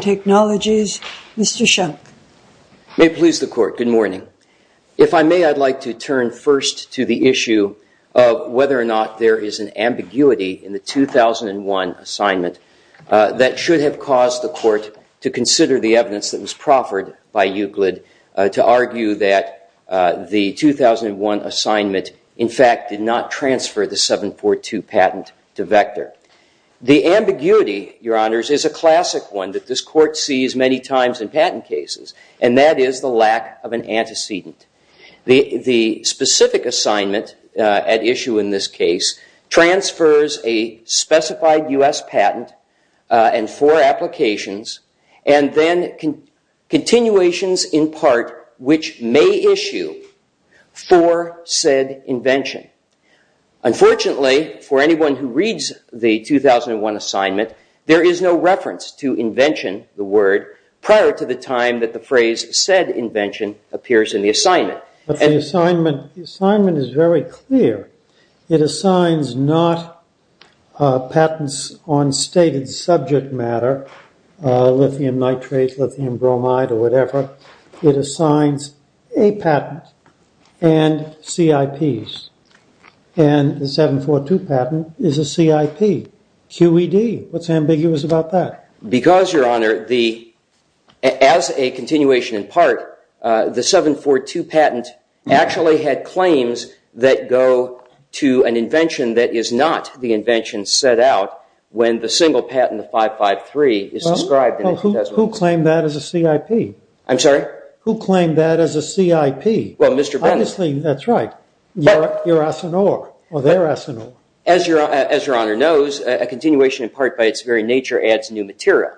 Technologies, Mr. Shunk. May it please the Court, good morning. If I may, I'd like to turn first to the issue of whether or not there is an ambiguity in the 2001 assignment that should have caused the Court to consider the evidence that was proffered by Euclid to argue that the 2001 assignment was a failure. The 2001 assignment, in fact, did not transfer the 742 patent to Vector. The ambiguity, Your Honors, is a classic one that this Court sees many times in patent cases, and that is the lack of an antecedent. The specific assignment at issue in this case transfers a specified U.S. patent and four applications, and then continuations in part which may issue for said invention. Unfortunately, for anyone who reads the 2001 assignment, there is no reference to invention, the word, prior to the time that the phrase said invention appears in the assignment. But the assignment is very clear. It assigns not patents on stated subject matter, lithium nitrate, lithium bromide, or whatever. It assigns a patent and CIPs, and the 742 patent is a CIP, QED. What's ambiguous about that? Because, Your Honor, as a continuation in part, the 742 patent actually had claims that go to an invention that is not the invention set out when the single patent, the 553, is described in the testament. Well, who claimed that as a CIP? I'm sorry? Who claimed that as a CIP? Well, Mr. Bennett. Obviously, that's right. You're Asinor, or they're Asinor. As Your Honor knows, a continuation in part by its very nature adds new material.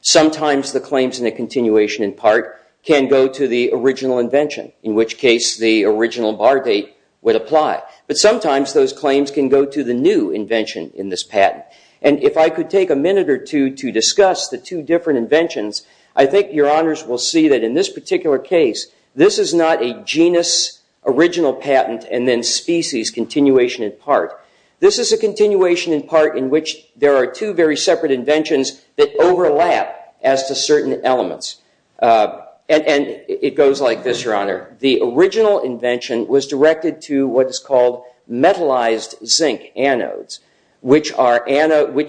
Sometimes the claims in a continuation in part can go to the original invention, in which case the original bar date would apply. But sometimes those claims can go to the new invention in this patent. And if I could take a minute or two to discuss the two different inventions, I think Your Honors will see that in this particular case, this is not a genus, original patent, and then species continuation in part. This is a continuation in part in which there are two very separate inventions that overlap as to certain elements. And it goes like this, Your Honor. The original invention was directed to what is called metallized zinc anodes, which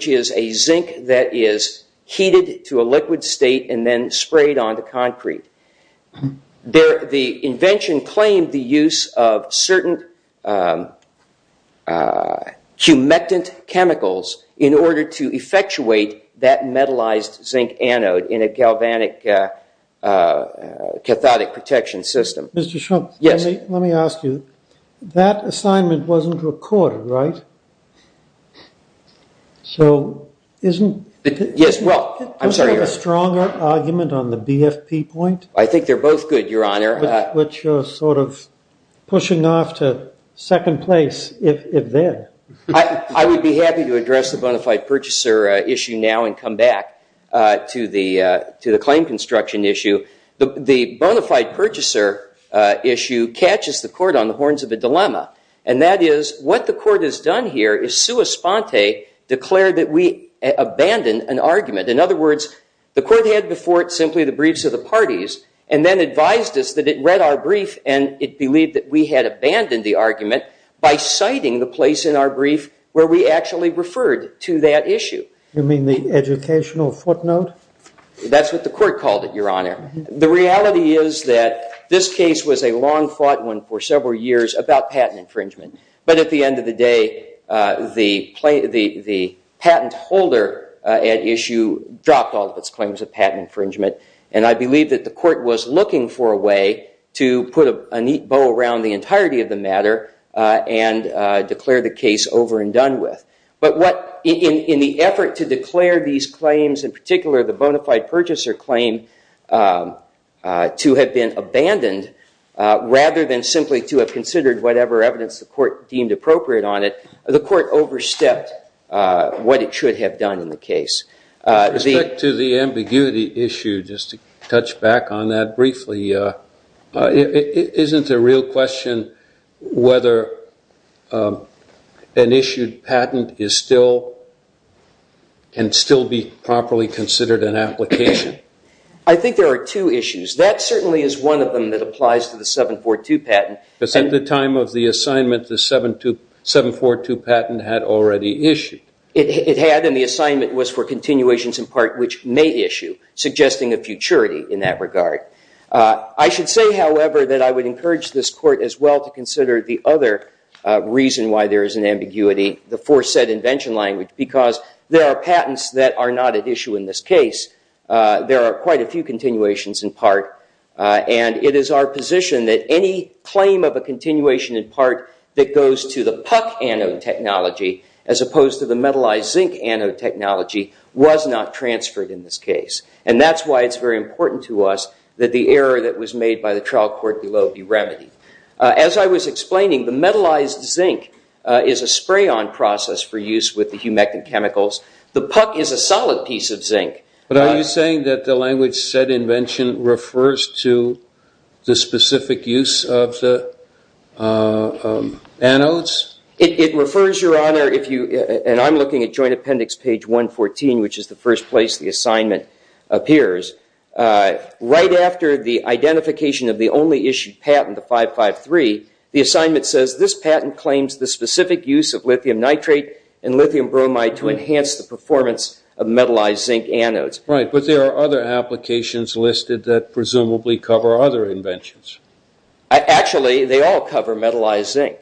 is a zinc that is heated to a liquid state and then sprayed onto concrete. The invention claimed the use of certain humectant chemicals in order to effectuate that metallized zinc anode in a galvanic cathodic protection system. Mr. Shrum, let me ask you. That assignment wasn't recorded, right? Do you have a stronger argument on the BFP point? I think they're both good, Your Honor. But you're sort of pushing off to second place if they're. I would be happy to address the bona fide purchaser issue now and come back to the claim construction issue. The bona fide purchaser issue catches the court on the horns of a dilemma. And that is what the court has done here is sua sponte, declared that we abandoned an argument. In other words, the court had before it simply the briefs of the parties and then advised us that it read our brief and it believed that we had abandoned the argument by citing the place in our brief where we actually referred to that issue. You mean the educational footnote? That's what the court called it, Your Honor. The reality is that this case was a long-fought one for several years about patent infringement. But at the end of the day, the patent holder at issue dropped all of its claims of patent infringement. And I believe that the court was looking for a way to put a neat bow around the entirety of the matter and declare the case over and done with. But in the effort to declare these claims, in particular the bona fide purchaser claim, to have been abandoned rather than simply to have considered whatever evidence the court deemed appropriate on it, the court overstepped what it should have done in the case. With respect to the ambiguity issue, just to touch back on that briefly, isn't the real question whether an issued patent can still be properly considered an application? I think there are two issues. That certainly is one of them that applies to the 742 patent. But at the time of the assignment, the 742 patent had already issued. It had and the assignment was for continuations in part which may issue, suggesting a futurity in that regard. I should say, however, that I would encourage this court as well to consider the other reason why there is an ambiguity, the foresaid invention language, because there are patents that are not at issue in this case. There are quite a few continuations in part. And it is our position that any claim of a continuation in part that goes to the puck anode technology as opposed to the metallized zinc anode technology was not transferred in this case. And that's why it's very important to us that the error that was made by the trial court below be remedied. As I was explaining, the metallized zinc is a spray-on process for use with the humectant chemicals. The puck is a solid piece of zinc. But are you saying that the language said invention refers to the specific use of the anodes? It refers, Your Honor, and I'm looking at joint appendix page 114, which is the first place the assignment appears. Right after the identification of the only issued patent, the 553, the assignment says, this patent claims the specific use of lithium nitrate and lithium bromide to enhance the performance of metallized zinc anodes. Right, but there are other applications listed that presumably cover other inventions. Actually, they all cover metallized zinc.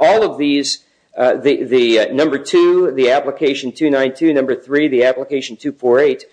All of these, the number two, the application 292, number three, the application 248,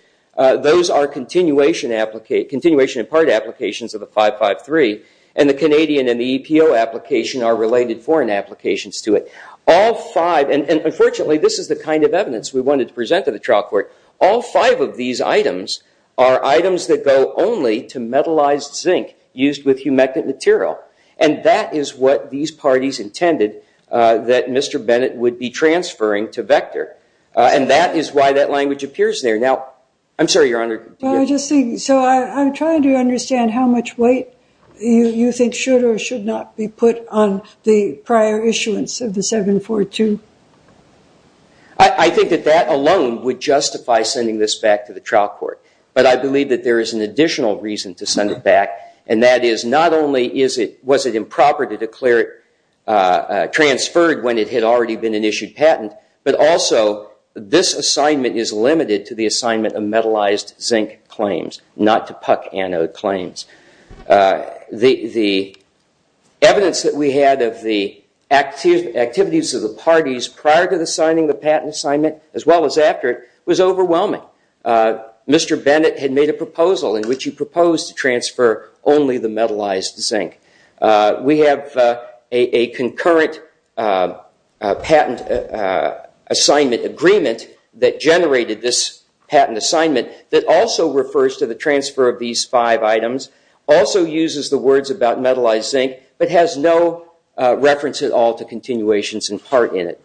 those are continuation in part applications of the 553. And the Canadian and the EPO application are related foreign applications to it. All five, and unfortunately this is the kind of evidence we wanted to present to the trial court, all five of these items are items that go only to metallized zinc used with humectant material. And that is what these parties intended that Mr. Bennett would be transferring to Vector. And that is why that language appears there. Now, I'm sorry, Your Honor. So I'm trying to understand how much weight you think should or should not be put on the prior issuance of the 742. I think that that alone would justify sending this back to the trial court. But I believe that there is an additional reason to send it back, and that is not only was it improper to declare it transferred when it had already been an issued patent, but also this assignment is limited to the assignment of metallized zinc claims, not to puck anode claims. The evidence that we had of the activities of the parties prior to the signing of the patent assignment, as well as after it, was overwhelming. Mr. Bennett had made a proposal in which he proposed to transfer only the metallized zinc. We have a concurrent patent assignment agreement that generated this patent assignment that also refers to the transfer of these five items, also uses the words about metallized zinc, but has no reference at all to continuations in part in it.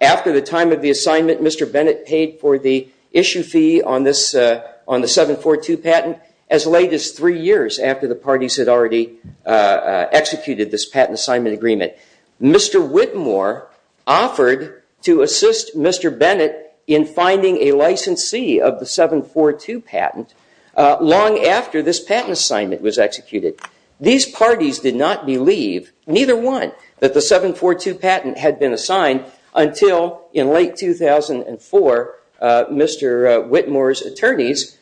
After the time of the assignment, Mr. Bennett paid for the issue fee on the 742 patent as late as three years after the parties had already executed this patent assignment agreement. Mr. Whitmore offered to assist Mr. Bennett in finding a licensee of the 742 patent long after this patent assignment was executed. These parties did not believe, neither one, that the 742 patent had been assigned until in late 2004 Mr. Whitmore's attorneys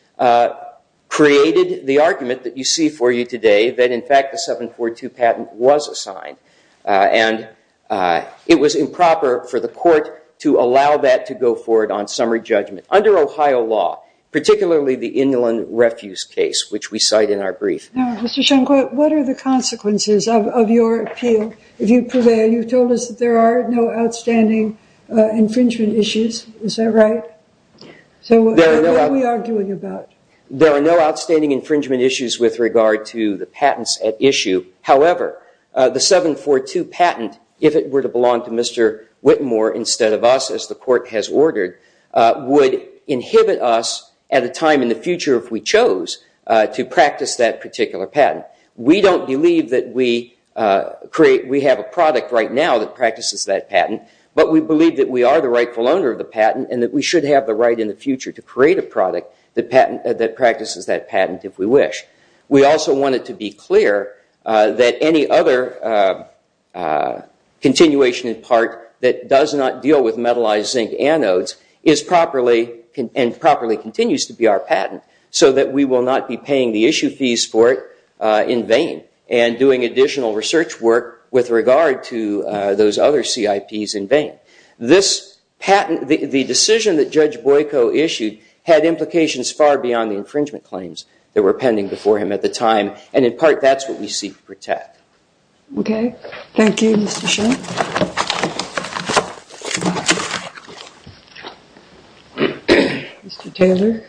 created the argument that you see for you today that in fact the 742 patent was assigned. And it was improper for the court to allow that to go forward on summary judgment under Ohio law, particularly the Inland Refuse case, which we cite in our brief. Now, Mr. Schenkel, what are the consequences of your appeal? If you prevail, you've told us that there are no outstanding infringement issues. Is that right? So what are we arguing about? There are no outstanding infringement issues with regard to the patents at issue. However, the 742 patent, if it were to belong to Mr. Whitmore instead of us, as the court has ordered, would inhibit us at a time in the future if we chose to practice that particular patent. We don't believe that we have a product right now that practices that patent, but we believe that we are the rightful owner of the patent and that we should have the right in the future to create a product that practices that patent if we wish. We also want it to be clear that any other continuation in part that does not deal with metallized zinc anodes and properly continues to be our patent so that we will not be paying the issue fees for it in vain and doing additional research work with regard to those other CIPs in vain. The decision that Judge Boyko issued had implications far beyond the infringement claims that were pending before him at the time, and in part, that's what we seek to protect. Okay. Thank you, Mr. Shull. Mr. Taylor.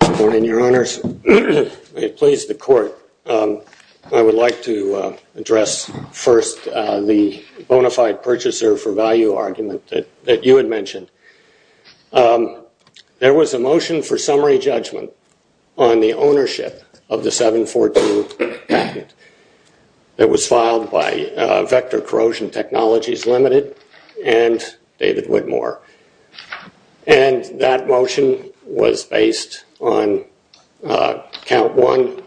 Good morning, Your Honors. It pleased the court. I would like to address first the bona fide purchaser for value argument that you had mentioned. There was a motion for summary judgment on the ownership of the 742 patent that was filed by Vector Corrosion Technologies Limited and David Whitmore, and that motion was based on count one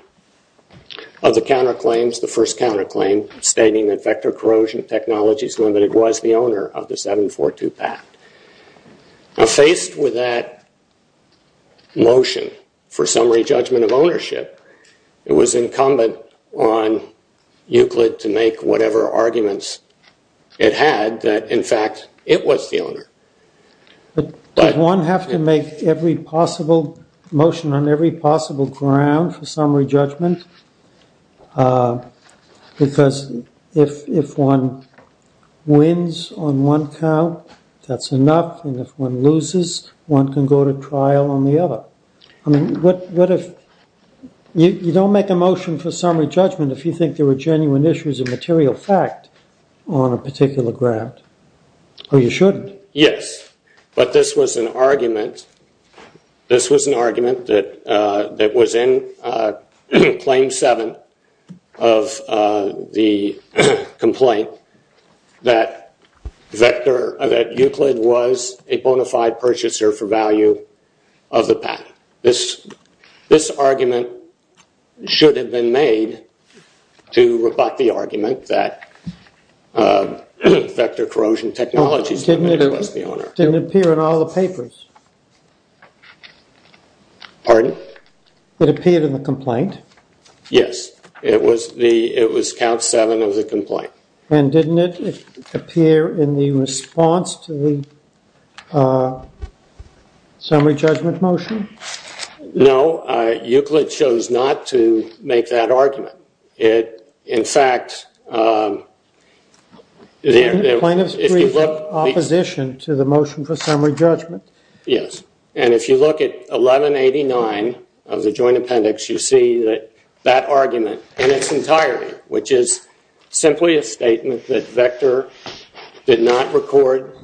of the counterclaims, the first counterclaim, stating that Vector Corrosion Technologies Limited was the owner of the 742 patent. Now, faced with that motion for summary judgment of ownership, it was incumbent on Euclid to make whatever arguments it had that, in fact, it was the owner. Did one have to make every possible motion on every possible ground for summary judgment? Because if one wins on one count, that's enough, and if one loses, one can go to trial on the other. I mean, what if you don't make a motion for summary judgment if you think there were genuine issues of material fact on a particular ground, or you shouldn't? Yes, but this was an argument that was in Claim 7 of the complaint that Euclid was a bona fide purchaser for value of the patent. This argument should have been made to rebut the argument that Vector Corrosion Technologies Limited was the owner. It didn't appear in all the papers. It appeared in the complaint. Yes, it was Count 7 of the complaint. And didn't it appear in the response to the summary judgment motion? No, Euclid chose not to make that argument. In fact, if you look at 1189 of the joint appendix, you see that that argument in its entirety, which is simply a statement that Vector did not record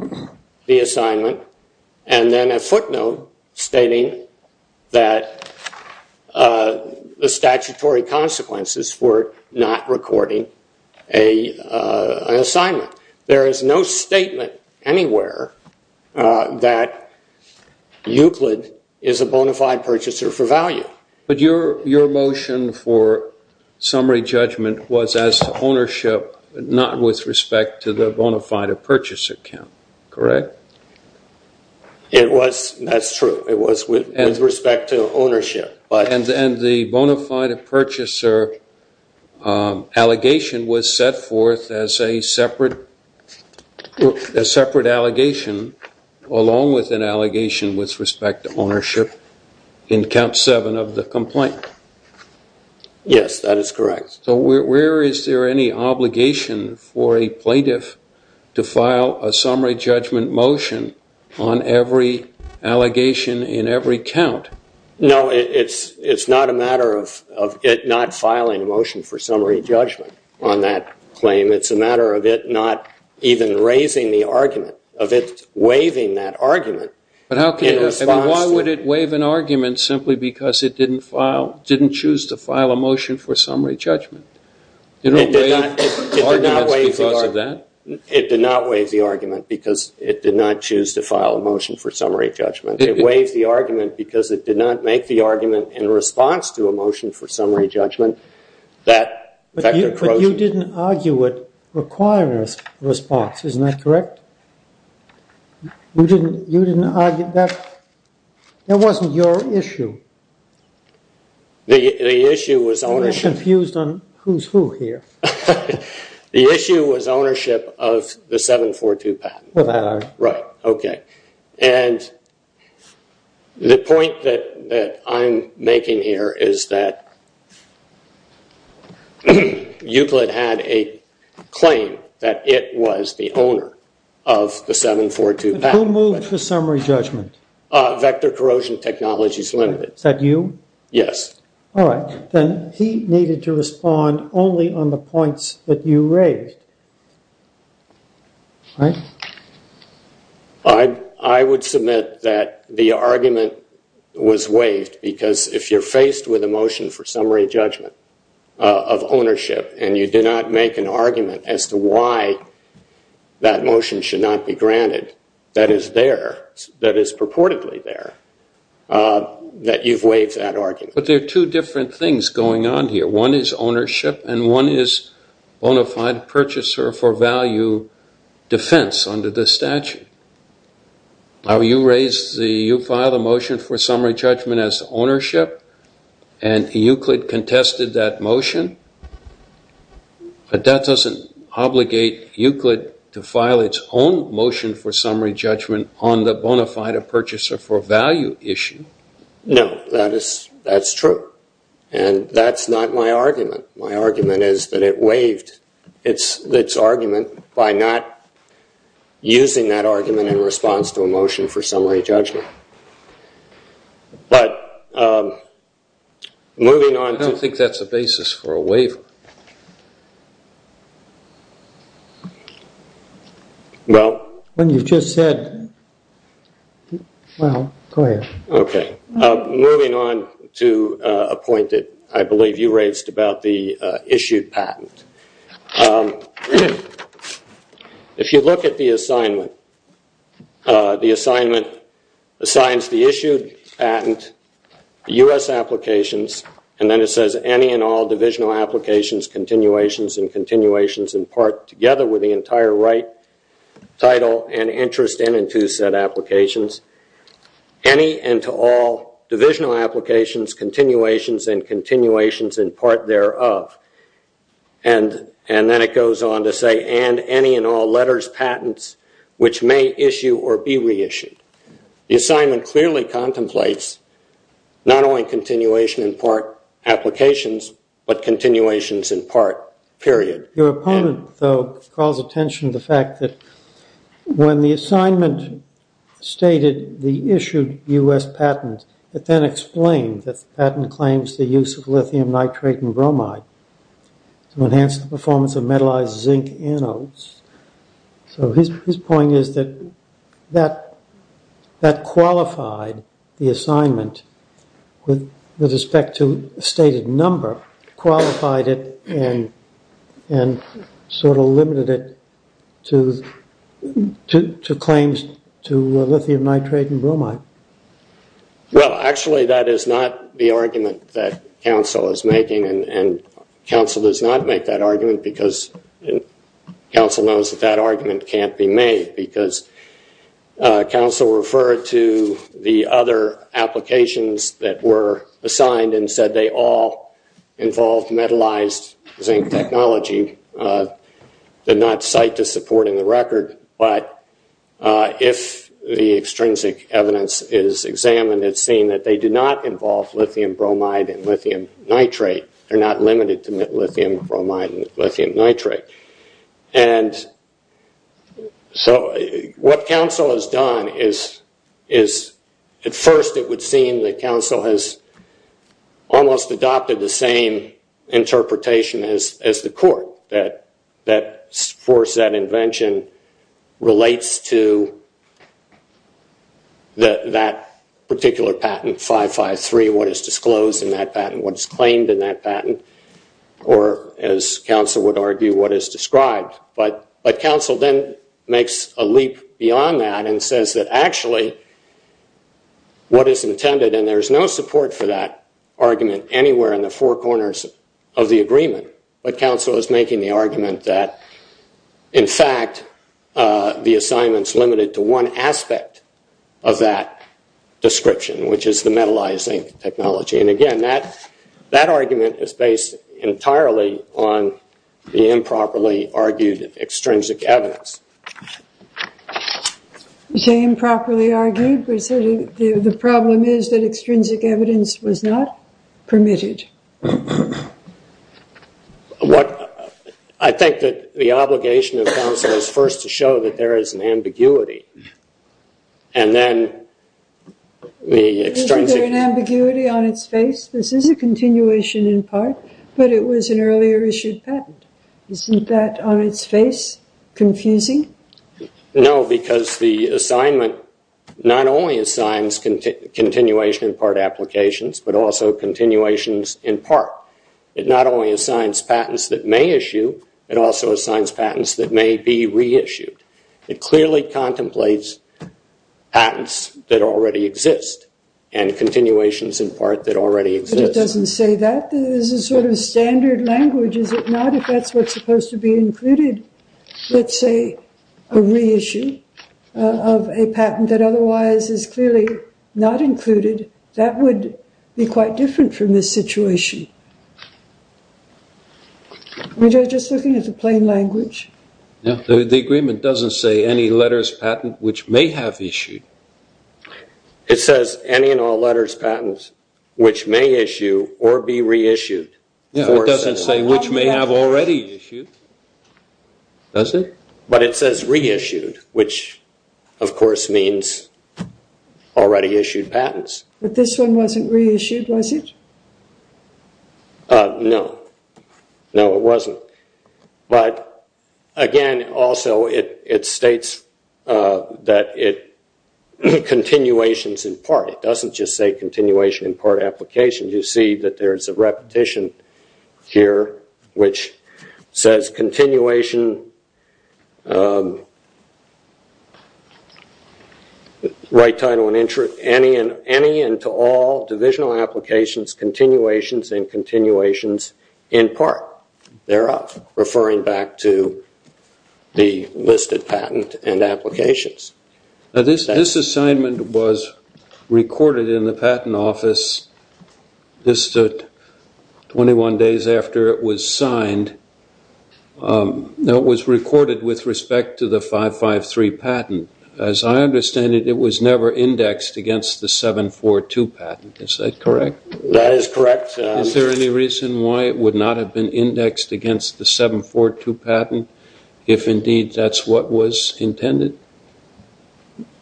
the assignment, and then a footnote stating that the statutory consequences for not recording an assignment. There is no statement anywhere that Euclid is a bona fide purchaser for value. But your motion for summary judgment was as to ownership, not with respect to the bona fide purchaser count, correct? That's true. It was with respect to ownership. And the bona fide purchaser allegation was set forth as a separate allegation, along with an allegation with respect to ownership in Count 7 of the complaint. Yes, that is correct. So where is there any obligation for a plaintiff to file a summary judgment motion on every allegation in every count? No, it's not a matter of it not filing a motion for summary judgment on that claim. It's a matter of it not even raising the argument, of it waiving that argument. But why would it waive an argument simply because it didn't choose to file a motion for summary judgment? It didn't waive the argument because of that? It did not waive the argument because it did not choose to file a motion for summary judgment. It waived the argument because it did not make the argument in response to a motion for summary judgment that Vector Crowson You didn't argue it required a response, isn't that correct? You didn't argue that? That wasn't your issue. The issue was ownership. You're confused on who's who here. The issue was ownership of the 742 patent. Right, okay. And the point that I'm making here is that Euclid had a claim that it was the owner of the 742 patent. Who moved the summary judgment? Vector Corrosion Technologies Limited. Is that you? Yes. All right, then he needed to respond only on the points that you raised. All right. I would submit that the argument was waived because if you're faced with a motion for summary judgment of ownership and you did not make an argument as to why that motion should not be granted that is there, that is purportedly there, that you've waived that argument. But there are two different things going on here. One is ownership and one is bona fide purchaser for value defense under the statute. You filed a motion for summary judgment as ownership and Euclid contested that motion. But that doesn't obligate Euclid to file its own motion for summary judgment on the bona fide purchaser for value issue. No, that's true. And that's not my argument. My argument is that it waived its argument by not using that argument in response to a motion for summary judgment. But moving on to- I don't think that's a basis for a waiver. Well- When you just said- Well, go ahead. Okay. Moving on to a point that I believe you raised about the issued patent. If you look at the assignment, the assignment assigns the issued patent, the U.S. applications, and then it says any and all divisional applications, continuations and continuations in part together with the entire right title and interest and in two set applications. Any and to all divisional applications, continuations and continuations in part thereof. And then it goes on to say and any and all letters, patents, which may issue or be reissued. The assignment clearly contemplates not only continuation in part applications, Your opponent, though, calls attention to the fact that when the assignment stated the issued U.S. patent, it then explained that the patent claims the use of lithium nitrate and bromide to enhance the performance of metallized zinc anodes. So his point is that that qualified the assignment with respect to a stated number, qualified it and sort of limited it to claims to lithium nitrate and bromide. Well, actually, that is not the argument that counsel is making, and counsel does not make that argument because counsel knows that that argument can't be made because counsel referred to the other applications that were assigned and said they all involved metallized zinc technology, did not cite the support in the record. But if the extrinsic evidence is examined, it's seen that they do not involve lithium bromide and lithium nitrate. They're not limited to lithium bromide and lithium nitrate. And so what counsel has done is at first it would seem that counsel has almost adopted the same interpretation as the court that forced that invention relates to that particular patent, 553, what is disclosed in that patent, what is claimed in that patent, or as counsel would argue, what is described. But counsel then makes a leap beyond that and says that actually what is intended, and there is no support for that argument anywhere in the four corners of the agreement, but counsel is making the argument that in fact the assignment is limited to one aspect of that description, which is the metallized zinc technology. And again, that argument is based entirely on the improperly argued extrinsic evidence. You say improperly argued? The problem is that extrinsic evidence was not permitted. I think that the obligation of counsel is first to show that there is an ambiguity. Is there an ambiguity on its face? This is a continuation in part, but it was an earlier issued patent. Isn't that on its face confusing? No, because the assignment not only assigns continuation in part applications, but also continuations in part. It not only assigns patents that may issue, it also assigns patents that may be reissued. It clearly contemplates patents that already exist and continuations in part that already exist. But it doesn't say that. This is sort of standard language, is it not? If that's what's supposed to be included, let's say a reissue of a patent that otherwise is clearly not included, that would be quite different from this situation. I'm just looking at the plain language. The agreement doesn't say any letters patent which may have issued. It says any and all letters patents which may issue or be reissued. It doesn't say which may have already issued, does it? But it says reissued, which of course means already issued patents. But this one wasn't reissued, was it? No. No, it wasn't. But again, also it states that it continuations in part. It doesn't just say continuation in part applications. You see that there's a repetition here which says continuation, right title and interest, any and to all divisional applications, continuations, and continuations in part thereof, referring back to the listed patent and applications. This assignment was recorded in the Patent Office just 21 days after it was signed. It was recorded with respect to the 553 patent. As I understand it, it was never indexed against the 742 patent. Is that correct? That is correct. Is there any reason why it would not have been indexed against the 742 patent, if indeed that's what was intended?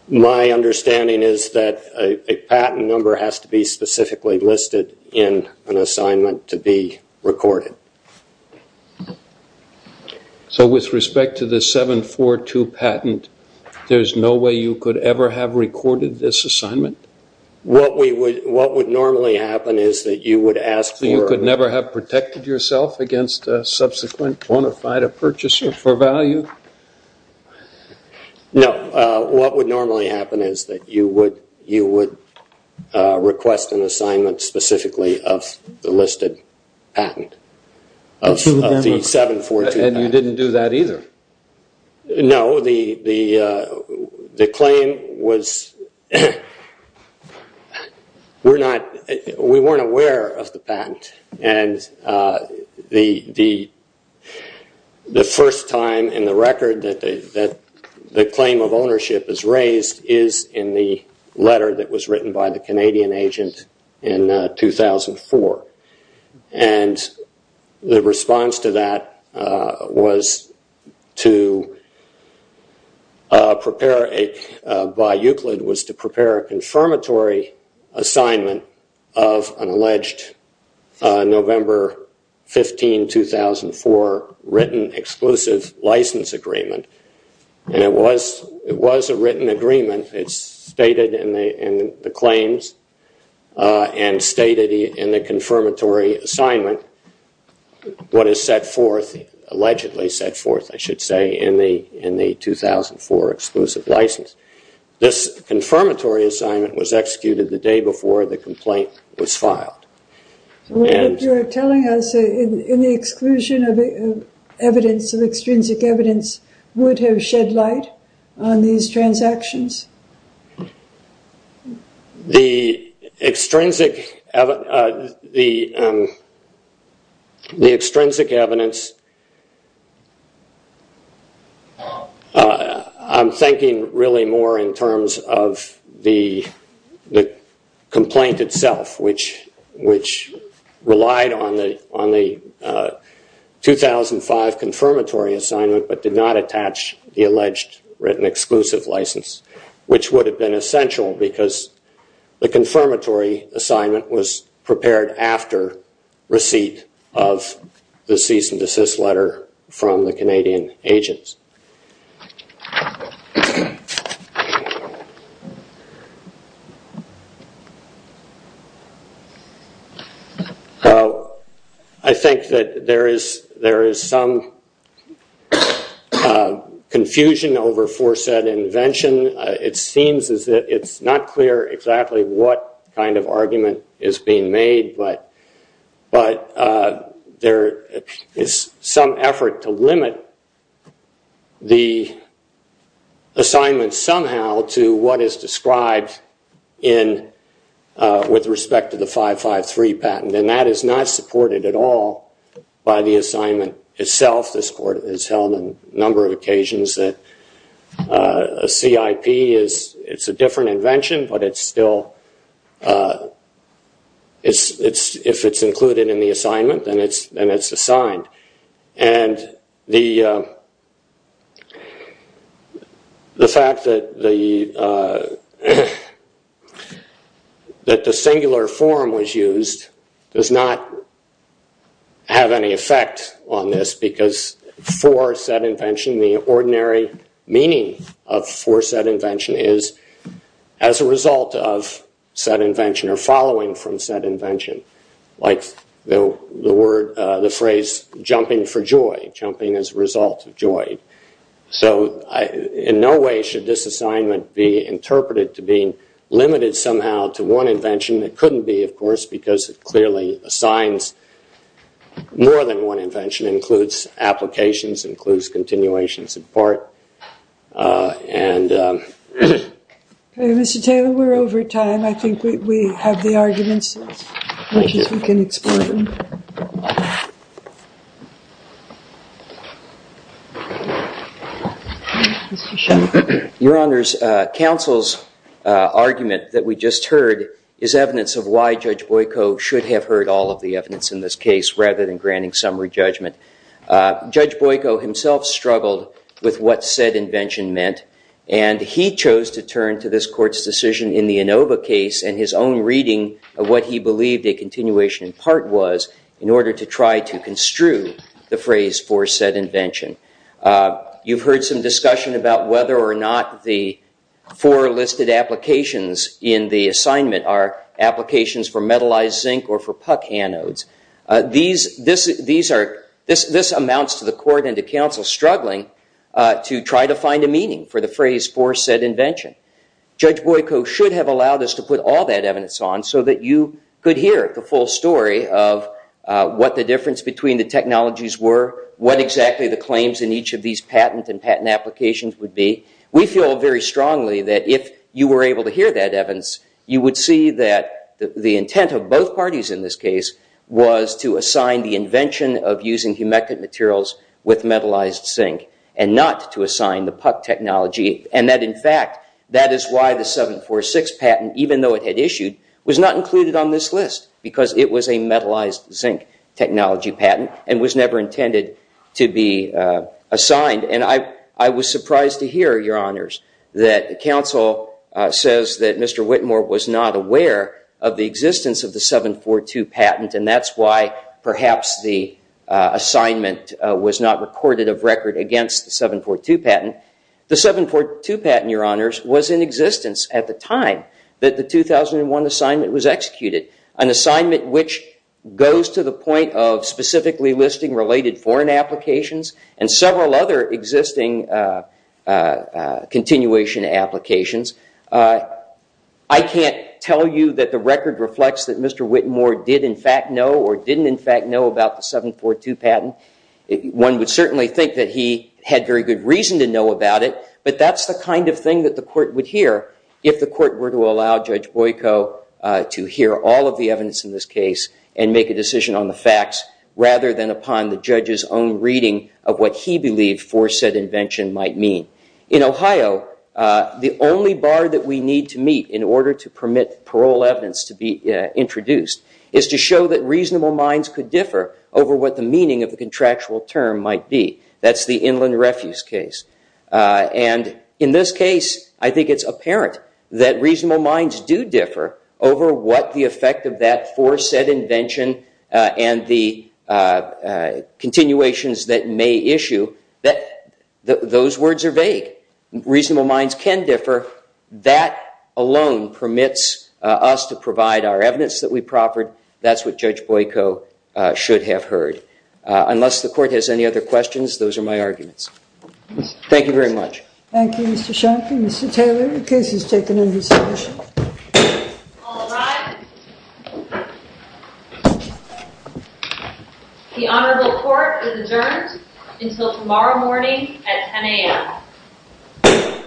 My understanding is that a patent number has to be specifically listed in an assignment to be recorded. So with respect to the 742 patent, there's no way you could ever have recorded this assignment? What would normally happen is that you would ask for- No, what would normally happen is that you would request an assignment specifically of the listed patent of the 742 patent. And you didn't do that either? No, the claim was-we weren't aware of the patent. And the first time in the record that the claim of ownership is raised is in the letter that was written by the Canadian agent in 2004. And the response to that by Euclid was to prepare a confirmatory assignment of an alleged November 15, 2004, written exclusive license agreement. And it was a written agreement. It's stated in the claims and stated in the confirmatory assignment, what is set forth, allegedly set forth, I should say, in the 2004 exclusive license. This confirmatory assignment was executed the day before the complaint was filed. You're telling us in the exclusion of evidence, the extrinsic evidence would have shed light on these transactions? The extrinsic evidence- I'm thinking really more in terms of the complaint itself, which relied on the 2005 confirmatory assignment but did not attach the alleged written exclusive license, which would have been essential because the confirmatory assignment was prepared after receipt of the cease and desist letter from the Canadian agents. I think that there is some confusion over foresaid invention. It seems that it's not clear exactly what kind of argument is being made, but there is some effort to limit the assignment somehow to what is described with respect to the 553 patent. And that is not supported at all by the assignment itself. This Court has held on a number of occasions that a CIP is a different invention, but it's still- if it's included in the assignment, then it's assigned. And the fact that the singular form was used does not have any effect on this because foresaid invention, the ordinary meaning of foresaid invention is as a result of said invention or following from said invention, like the phrase jumping for joy, jumping as a result of joy. So in no way should this assignment be interpreted to being limited somehow to one invention. It couldn't be, of course, because it clearly assigns more than one invention, includes applications, includes continuations in part. And- Okay, Mr. Taylor, we're over time. I think we have the arguments. Thank you. If we can explore them. Mr. Schell. Your Honors, counsel's argument that we just heard is evidence of why Judge Boyko should have heard all of the evidence in this case rather than granting summary judgment. Judge Boyko himself struggled with what said invention meant, and he chose to turn to this court's decision in the Inova case and his own reading of what he believed a continuation in part was in order to try to construe the phrase foresaid invention. You've heard some discussion about whether or not the four listed applications in the assignment are applications for metallized zinc or for puck anodes. This amounts to the court and to counsel struggling to try to find a meaning for the phrase foresaid invention. Judge Boyko should have allowed us to put all that evidence on so that you could hear the full story of what the difference between the technologies were, what exactly the claims in each of these patent and patent applications would be. We feel very strongly that if you were able to hear that evidence, you would see that the intent of both parties in this case was to assign the invention of using humectant materials with metallized zinc and not to assign the puck technology, and that, in fact, that is why the 746 patent, even though it had issued, was not included on this list because it was a metallized zinc technology patent and was never intended to be assigned. I was surprised to hear, Your Honors, that counsel says that Mr. Whitmore was not aware of the existence of the 742 patent, and that's why perhaps the assignment was not recorded of record against the 742 patent. The 742 patent, Your Honors, was in existence at the time that the 2001 assignment was executed, an assignment which goes to the point of specifically listing related foreign applications and several other existing continuation applications. I can't tell you that the record reflects that Mr. Whitmore did, in fact, know or didn't, in fact, know about the 742 patent. One would certainly think that he had very good reason to know about it, but that's the kind of thing that the Court would hear if the Court were to allow Judge Boyko to hear all of the evidence in this case and make a decision on the facts rather than upon the judge's own reading of what he believed foresaid invention might mean. In Ohio, the only bar that we need to meet in order to permit parole evidence to be introduced is to show that reasonable minds could differ over what the meaning of the contractual term might be. That's the Inland Refuse case. And in this case, I think it's apparent that reasonable minds do differ over what the effect of that foresaid invention and the continuations that may issue, that those words are vague. Reasonable minds can differ. That alone permits us to provide our evidence that we proffered. That's what Judge Boyko should have heard. Unless the Court has any other questions, those are my arguments. Thank you very much. Thank you, Mr. Schenke. Mr. Taylor, the case is taken into session. All rise. The Honorable Court is adjourned until tomorrow morning at 10 a.m.